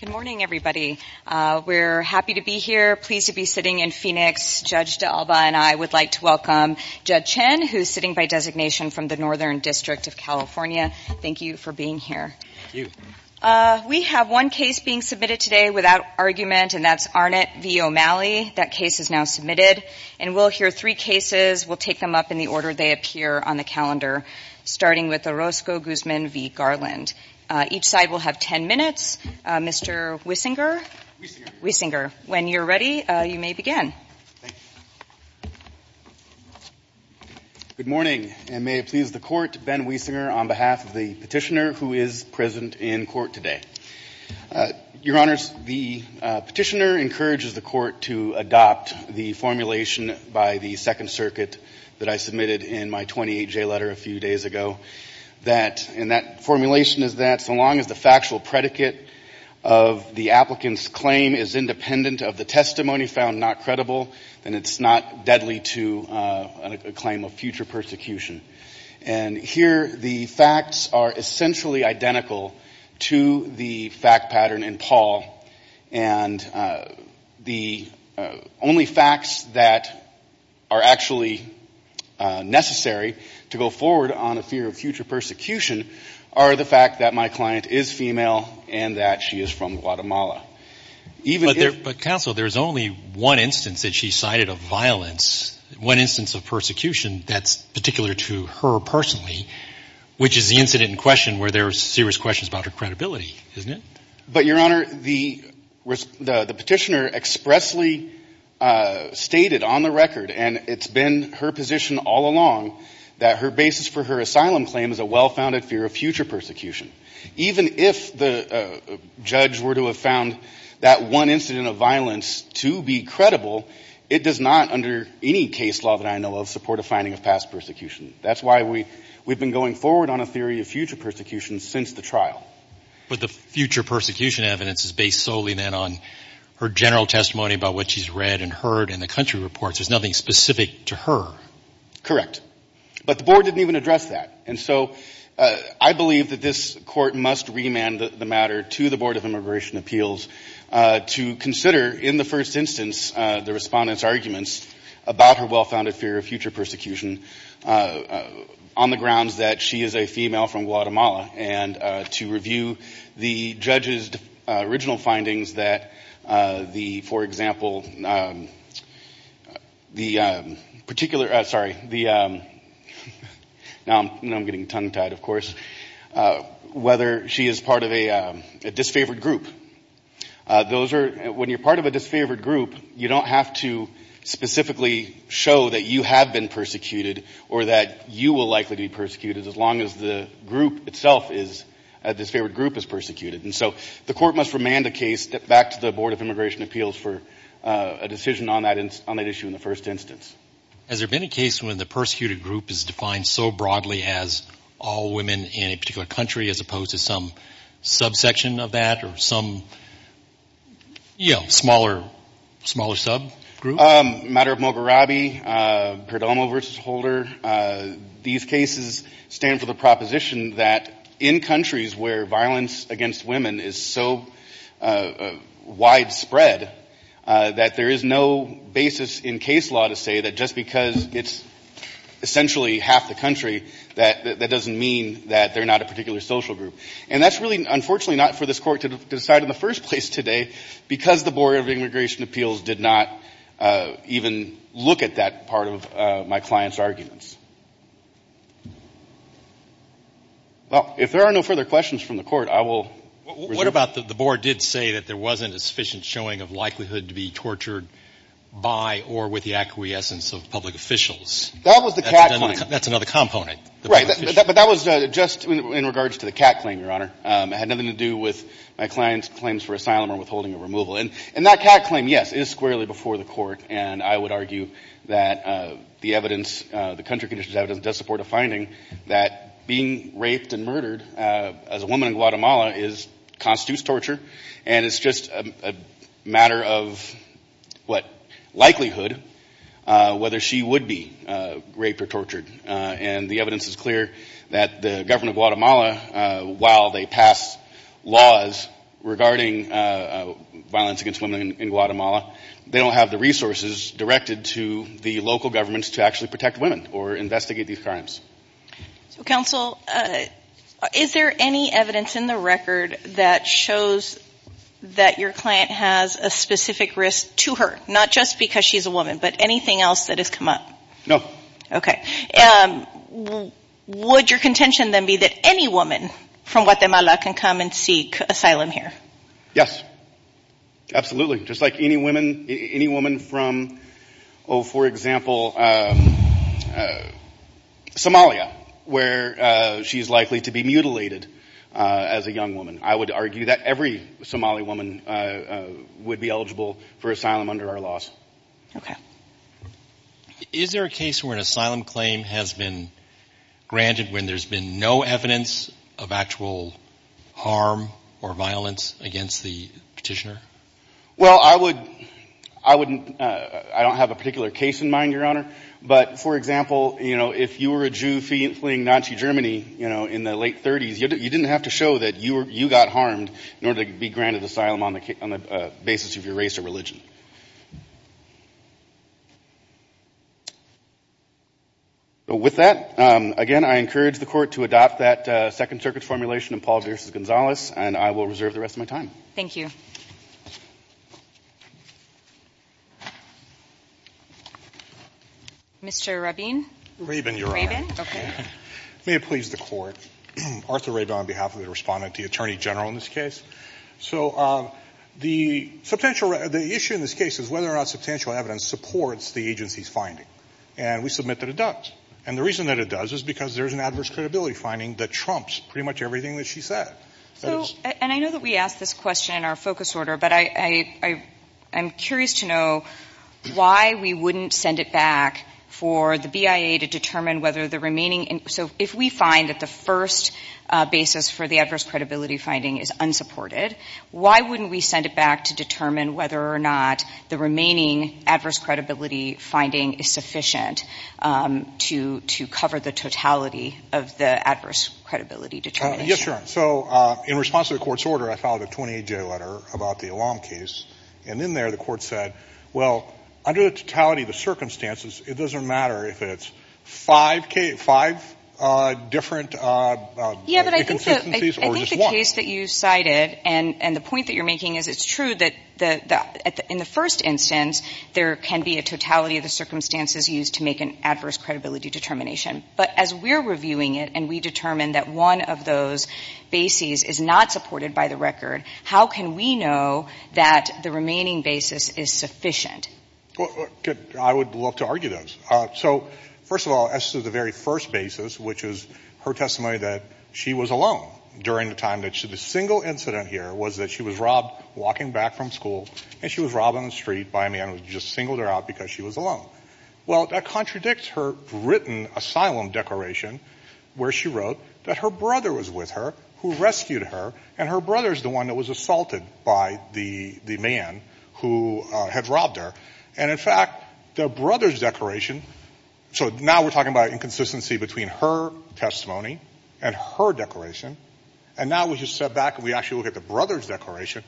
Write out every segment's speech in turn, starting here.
Good morning, everybody. We're happy to be here, pleased to be sitting in Phoenix. Judge D'Alba and I would like to welcome Judge Chen, who is sitting by designation from the Northern District of California. Thank you for being here. We have one case being submitted today without argument, and that's Arnett v. O'Malley. That case is now submitted. And we'll hear three cases. We'll take them up in the order they appear on the calendar, starting with Orozco Guzman v. Garland. Each side will have 10 minutes. Mr. Wiesinger? Wiesinger. Wiesinger. When you're ready, you may begin. Thank you. Good morning, and may it please the Court, Ben Wiesinger on behalf of the Petitioner encourages the Court to adopt the formulation by the Second Circuit that I submitted in my 28-J letter a few days ago. And that formulation is that so long as the factual predicate of the applicant's claim is independent of the testimony found not credible, then it's not deadly to a claim of future persecution. And here the facts are essentially identical to the fact pattern in Paul. And the only facts that are actually necessary to go forward on a fear of future persecution are the fact that my client is female and that she is from Guatemala. Even if... But counsel, there's only one instance that she cited of violence, one instance of persecution that's particular to her personally, which is the incident in credibility, isn't it? But, Your Honor, the Petitioner expressly stated on the record, and it's been her position all along, that her basis for her asylum claim is a well-founded fear of future persecution. Even if the judge were to have found that one incident of violence to be credible, it does not under any case law that I know of support a finding of past persecution. That's why we've been going forward on a theory of future persecution since the trial. But the future persecution evidence is based solely, then, on her general testimony about what she's read and heard in the country reports. There's nothing specific to her. Correct. But the Board didn't even address that. And so I believe that this Court must remand the matter to the Board of Immigration Appeals to consider, in the first instance, the Respondent's arguments about her well-founded fear of future persecution, on the grounds that she is a female from Guatemala, and to review the judge's original findings that the, for example, the particular, sorry, the, now I'm getting tongue-tied, of course, whether she is part of a disfavored group. When you're part of a disfavored group, you don't have to specifically show that you have been persecuted, or that you will likely be persecuted, as long as the group itself is, the disfavored group is persecuted. And so the Court must remand the case back to the Board of Immigration Appeals for a decision on that issue in the first instance. Has there been a case when the persecuted group is defined so broadly as all women in a particular country, as opposed to some subsection of that, or some, you know, smaller, smaller subgroup? A matter of Mogherabi, Perdomo v. Holder, these cases stand for the proposition that in countries where violence against women is so widespread that there is no basis in case law to say that just because it's essentially half the country, that that doesn't mean that they're not a particular social group. And that's really, unfortunately, not for this Court to decide in the first place today, because the Board of Immigration Appeals did not even look at that part of my client's arguments. Well, if there are no further questions from the Court, I will resume. What about the Board did say that there wasn't a sufficient showing of likelihood to be tortured by or with the acquiescence of public officials? That was the cat point. That's another component. Right. But that was just in regards to the cat claim, Your Honor. It had nothing to do with my client's claims for asylum or withholding or removal. And that cat claim, yes, is squarely before the Court, and I would argue that the evidence, the country conditions evidence, does support a finding that being raped and murdered as a woman in Guatemala constitutes torture, and it's just a matter of whether or not that's true. And the evidence is clear that the government of Guatemala, while they pass laws regarding violence against women in Guatemala, they don't have the resources directed to the local governments to actually protect women or investigate these crimes. So, counsel, is there any evidence in the record that shows that your client has a wife? And would your contention then be that any woman from Guatemala can come and seek asylum here? Yes. Absolutely. Just like any woman from, oh, for example, Somalia, where she's likely to be mutilated as a young woman. I would argue that every Somali woman would be eligible for asylum under our laws. Okay. Is there a case where an asylum claim has been granted when there's been no evidence of actual harm or violence against the petitioner? Well, I don't have a particular case in mind, Your Honor, but, for example, if you were a Jew fleeing Nazi Germany in the late 30s, you didn't have to show that you got harmed in order to be granted asylum on the basis of your race or religion. With that, again, I encourage the Court to adopt that Second Circuit formulation in Paul v. Gonzalez, and I will reserve the rest of my time. Thank you. Mr. Rabin? Rabin, Your Honor. Rabin, okay. May it please the Court, Arthur Rabin on behalf of the respondent to the Attorney General in this case. So the issue in this case is whether or not substantial evidence supports the agency's finding, and we submit that it does. And the reason that it does is because there's an adverse credibility finding that trumps pretty much everything that she said. And I know that we asked this question in our focus order, but I'm curious to know why we wouldn't send it back for the BIA to determine whether the remaining – so if we find that the first basis for the adverse credibility finding is unsupported, why wouldn't we send it back to determine whether or not the remaining adverse credibility finding is sufficient to cover the totality of the adverse credibility determination? Yes, Your Honor. So in response to the Court's order, I filed a 28-J letter about the Elam case. And in there, the Court said, well, under the totality of the circumstances, it doesn't matter if it's five different inconsistencies or just one. In the case that you cited, and the point that you're making is it's true that in the first instance, there can be a totality of the circumstances used to make an adverse credibility determination. But as we're reviewing it and we determine that one of those bases is not supported by the record, how can we know that the remaining basis is sufficient? I would love to argue those. So, first of all, as to the very first basis, which is her testimony that she was alone during the time that the single incident here was that she was robbed walking back from school, and she was robbed on the street by a man who just singled her out because she was alone. Well, that contradicts her written asylum declaration where she wrote that her brother was with her who rescued her, and her brother is the one that was assaulted by the man who had robbed her. And, in fact, the brother's declaration, so now we're talking about inconsistency between her testimony and her declaration, and now we just step back and we actually look at the brother's declaration.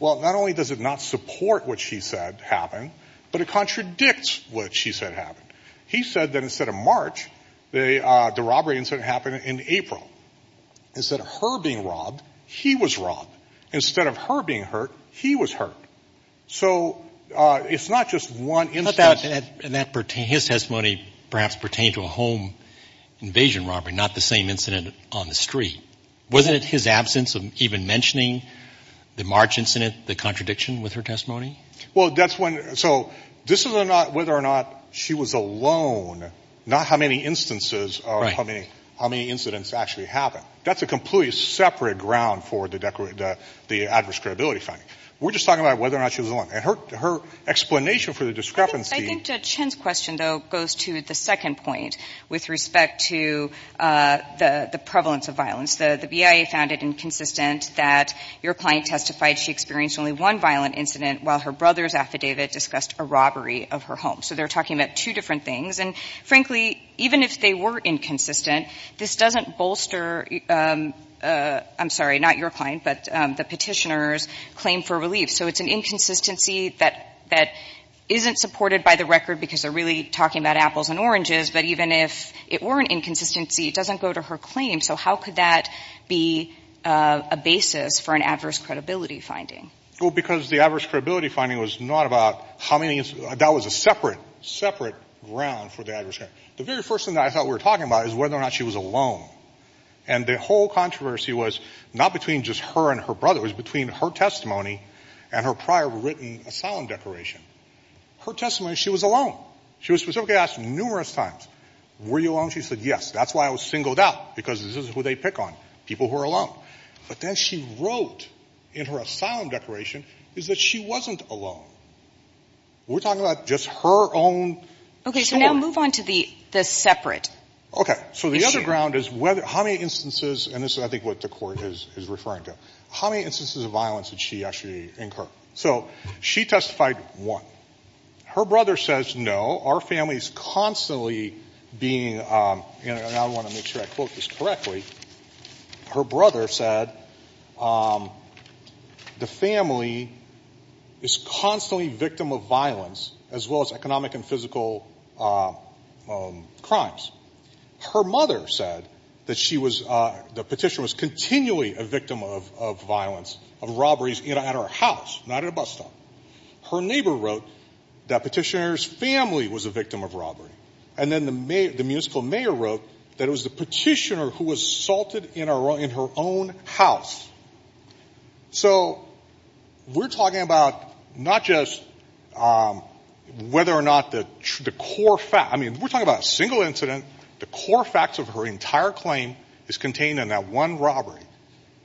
Well, not only does it not support what she said happened, but it contradicts what she said happened. He said that instead of March, the robbery incident happened in April. Instead of her being robbed, he was robbed. Instead of her being hurt, he was hurt. So it's not just one instance. And his testimony perhaps pertained to a home invasion robbery, not the same incident on the street. Wasn't it his absence of even mentioning the March incident the contradiction with her testimony? Well, that's when so this is not whether or not she was alone, not how many instances or how many incidents actually happened. That's a completely separate ground for the adverse credibility finding. We're just talking about whether or not she was alone. And her explanation for the discrepancy. I think Chen's question, though, goes to the second point with respect to the prevalence of violence. The BIA found it inconsistent that your client testified she experienced only one violent incident while her brother's affidavit discussed a robbery of her home. So they're talking about two different things. And, frankly, even if they were inconsistent, this doesn't bolster, I'm sorry, not your client, but the petitioner's claim for relief. So it's an inconsistency that isn't supported by the record because they're really talking about apples and oranges. But even if it were an inconsistency, it doesn't go to her claim. So how could that be a basis for an adverse credibility finding? Well, because the adverse credibility finding was not about how many incidents. That was a separate, separate ground for the adverse credibility. The very first thing that I thought we were talking about is whether or not she was alone. And the whole controversy was not between just her and her brother. It was between her testimony and her prior written asylum declaration. Her testimony, she was alone. She was specifically asked numerous times, were you alone? She said, yes. That's why I was singled out, because this is who they pick on, people who are alone. But then she wrote in her asylum declaration is that she wasn't alone. We're talking about just her own short. Okay. So now move on to the separate issue. So the other ground is how many instances, and this is, I think, what the Court is referring to, how many instances of violence did she actually incur? So she testified one. Her brother says no. Our family is constantly being, and I want to make sure I quote this correctly, her brother said the family is constantly victim of violence as well as economic and physical crimes. Her mother said that she was, the petitioner was continually a victim of violence, of robberies at her house, not at a bus stop. Her neighbor wrote that petitioner's family was a victim of robbery. And then the municipal mayor wrote that it was the petitioner who was assaulted in her own house. So we're talking about not just whether or not the core fact, I mean, we're talking, the core facts of her entire claim is contained in that one robbery.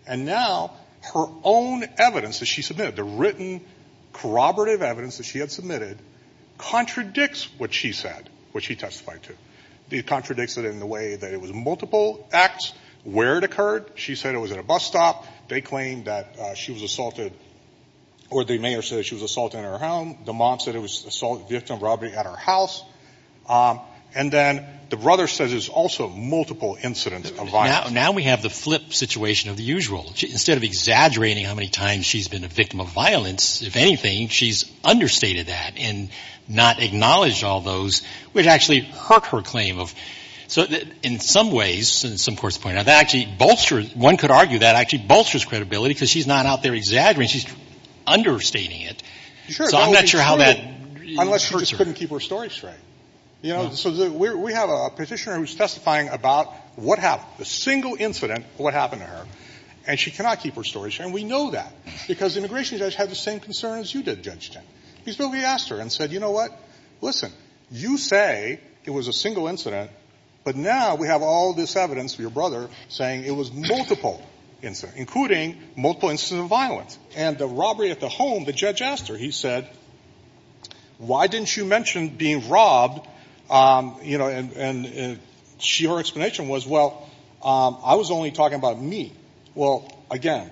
And now her own evidence that she submitted, the written corroborative evidence that she had submitted, contradicts what she said, what she testified to. It contradicts it in the way that it was multiple acts, where it occurred. She said it was at a bus stop. They claimed that she was assaulted, or the mayor said she was assaulted in her home. The mom said it was assault, victim of robbery at her house. And then the brother says it was also multiple incidents of violence. Now we have the flip situation of the usual. Instead of exaggerating how many times she's been a victim of violence, if anything, she's understated that and not acknowledged all those, which actually hurt her claim of, in some ways, and some courts point out, that actually bolsters, one could argue that actually bolsters credibility because she's not out there exaggerating. She's understating it. Sure. So I'm not sure how that. Unless she just couldn't keep her story straight. So we have a petitioner who's testifying about what happened, a single incident of what happened to her, and she cannot keep her story straight. And we know that because the immigration judge had the same concern as you did, Judge Chen. He simply asked her and said, you know what, listen, you say it was a single incident, but now we have all this evidence for your brother saying it was multiple incidents, including multiple incidents of violence. And the robbery at the home, the judge asked her, he said, why didn't you mention being robbed? You know, and she, her explanation was, well, I was only talking about me. Well, again,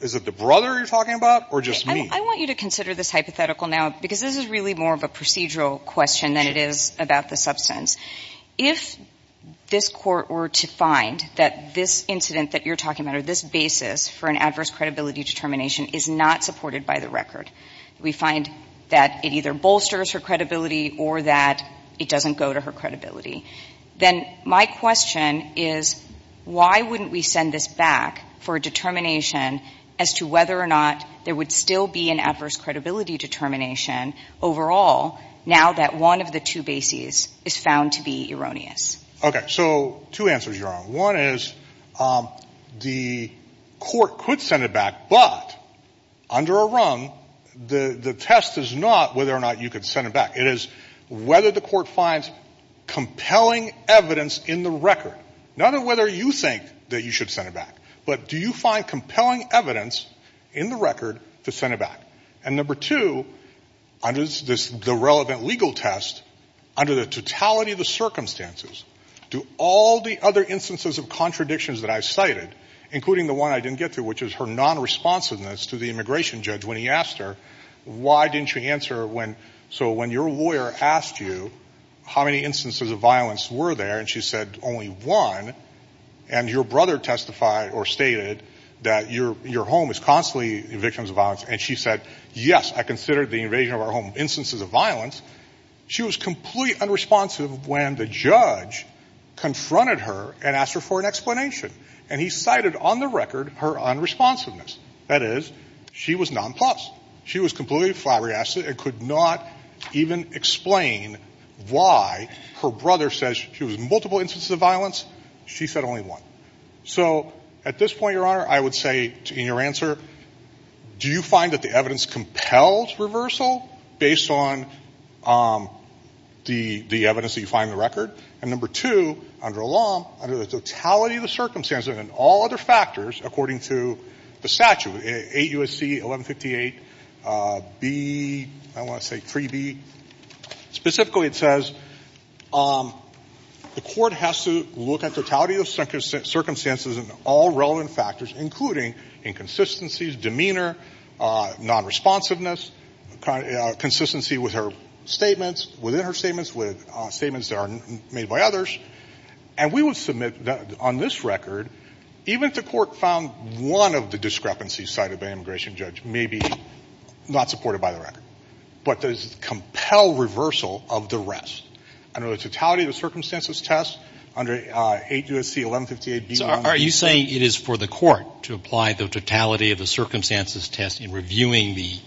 is it the brother you're talking about or just me? I want you to consider this hypothetical now because this is really more of a procedural question than it is about the substance. If this court were to find that this incident that you're talking about or this basis for an adverse credibility determination is not supported by the record, we find that it either bolsters her credibility or that it doesn't go to her credibility, then my question is why wouldn't we send this back for a determination as to whether or not there would still be an adverse credibility determination overall now that one of the two bases is found to be erroneous? Okay. So two answers you're on. One is the court could send it back, but under a rung, the test is not whether or not you could send it back. It is whether the court finds compelling evidence in the record. Not on whether you think that you should send it back, but do you find compelling evidence in the record to send it back? And number two, under the relevant legal test, under the totality of the instances of contradictions that I've cited, including the one I didn't get to, which is her nonresponsiveness to the immigration judge when he asked her, why didn't you answer when so when your lawyer asked you how many instances of violence were there and she said only one, and your brother testified or stated that your home is constantly victims of violence, and she said, yes, I considered the invasion of our home instances of violence. She was completely unresponsive when the judge confronted her and asked her for an explanation, and he cited on the record her unresponsiveness. That is, she was nonplussed. She was completely flabbergasted and could not even explain why her brother says she was in multiple instances of violence. She said only one. So at this point, Your Honor, I would say in your answer, do you find that the evidence that you find in the record, and number two, under the law, under the totality of the circumstances and all other factors, according to the statute, 8 U.S.C. 1158 B, I want to say 3B, specifically it says the court has to look at totality of circumstances and all relevant factors, including inconsistencies, demeanor, nonresponsiveness, consistency with her statements, within her statements, with statements that are made by others, and we would submit on this record, even if the court found one of the discrepancies cited by an immigration judge may be not supported by the record, but does compel reversal of the rest. Under the totality of the circumstances test, under 8 U.S.C. 1158 B, are you saying it is for the court to apply the totality of the circumstances test in reviewing the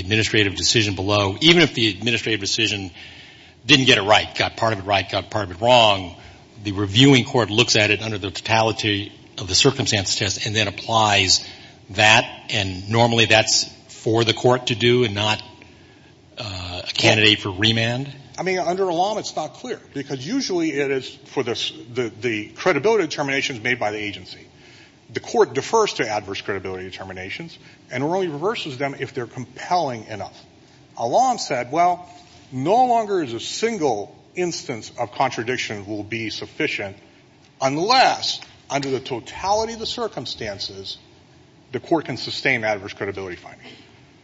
administrative decision below, even if the administrative decision didn't get it right, got part of it right, got part of it wrong, the reviewing court looks at it under the totality of the circumstances test and then applies that, and normally that's for the court to do and not a candidate for remand? I mean, under the law, it's not clear, because usually it is for the credibility determinations made by the agency. The court defers to adverse credibility determinations and only reverses them if they're compelling enough. Alon said, well, no longer is a single instance of contradiction will be sufficient unless, under the totality of the circumstances, the court can sustain adverse credibility findings.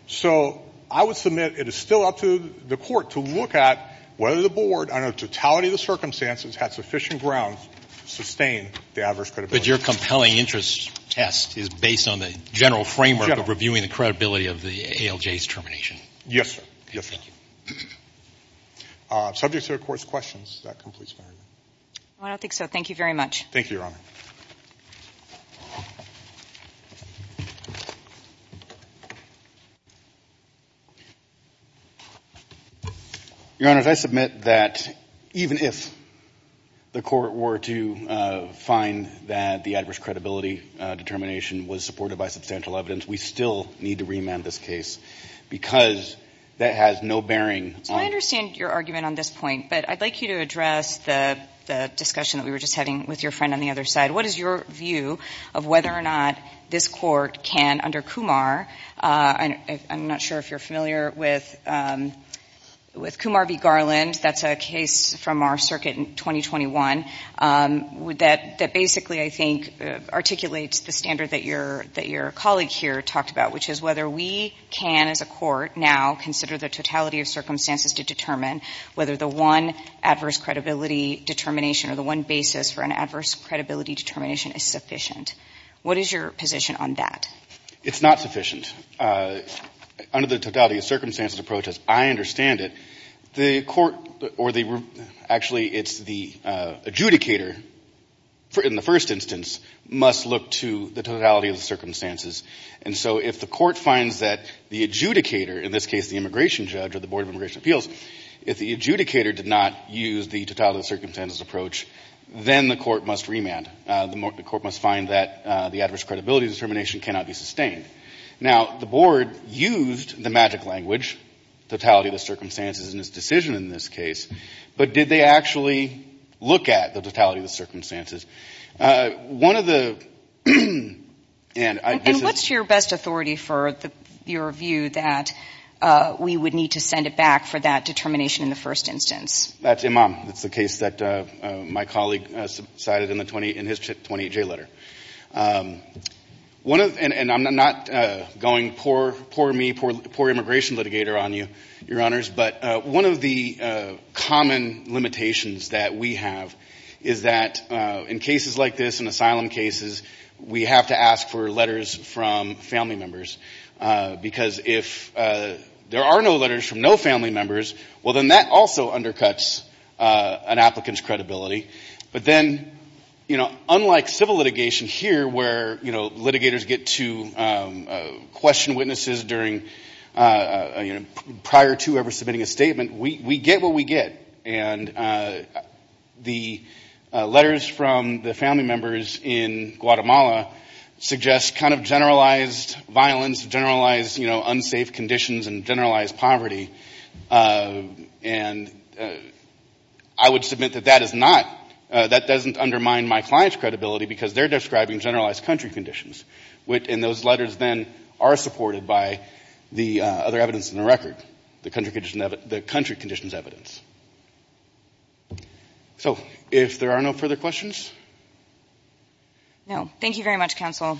So I would submit it is still up to the court to look at whether the board, under the totality of the circumstances, has sufficient ground to sustain the adverse credibility. But your compelling interest test is based on the general framework of reviewing the credibility of the ALJ's termination? Yes, sir. Thank you. Subject to the Court's questions, that completes my argument. I don't think so. Thank you very much. Thank you, Your Honor. Your Honor, I submit that even if the court were to find that the adverse credibility determination was supported by substantial evidence, we still need to remand this case, because that has no bearing on the case. Well, I understand your argument on this point, but I'd like you to address the discussion that we were just having with your friend on the other side. What is your view of whether or not this court can, under Kumar, I'm not sure if you're familiar with Kumar v. Garland, that's a case from our circuit in 2021, that basically, I think, articulates the standard that your colleague here talked about, which is whether we can, as a court, now consider the totality of circumstances to determine whether the one adverse credibility determination or the one basis for an adverse credibility determination is sufficient. What is your position on that? It's not sufficient. Under the totality of circumstances approach, as I understand it, the court or the, actually, it's the adjudicator, in the first instance, must look to the totality of the circumstances. And so if the court finds that the adjudicator, in this case the immigration judge or the board of immigration appeals, if the adjudicator did not use the totality of circumstances approach, then the court must remand. The court must find that the adverse credibility determination cannot be sustained. Now, the board used the magic language, totality of the circumstances, in its decision in this case, but did they actually look at the totality of the circumstances? One of the... And what's your best authority for your view that we would need to send it back for that determination in the first instance? That's Imam. That's the case that my colleague cited in his 28J letter. And I'm not going poor me, poor immigration litigator on you, Your Honors, but one of the common limitations that we have is that in cases like this, in asylum cases, we have to ask for letters from family members. Because if there are no letters from no family members, well, then that also undercuts an applicant's credibility. But then, you know, unlike civil litigation here, where, you know, litigators get to question witnesses during, you know, prior to whoever submitting a statement, we get what we get. And the letters from the family members in Guatemala suggest kind of generalized violence, generalized, you know, unsafe conditions and generalized poverty. And I would submit that that is not, that doesn't undermine my client's credibility because they're describing generalized country conditions. And those letters then are supported by the other evidence in the record, the country conditions evidence. So, if there are no further questions? No. Thank you very much, Counsel.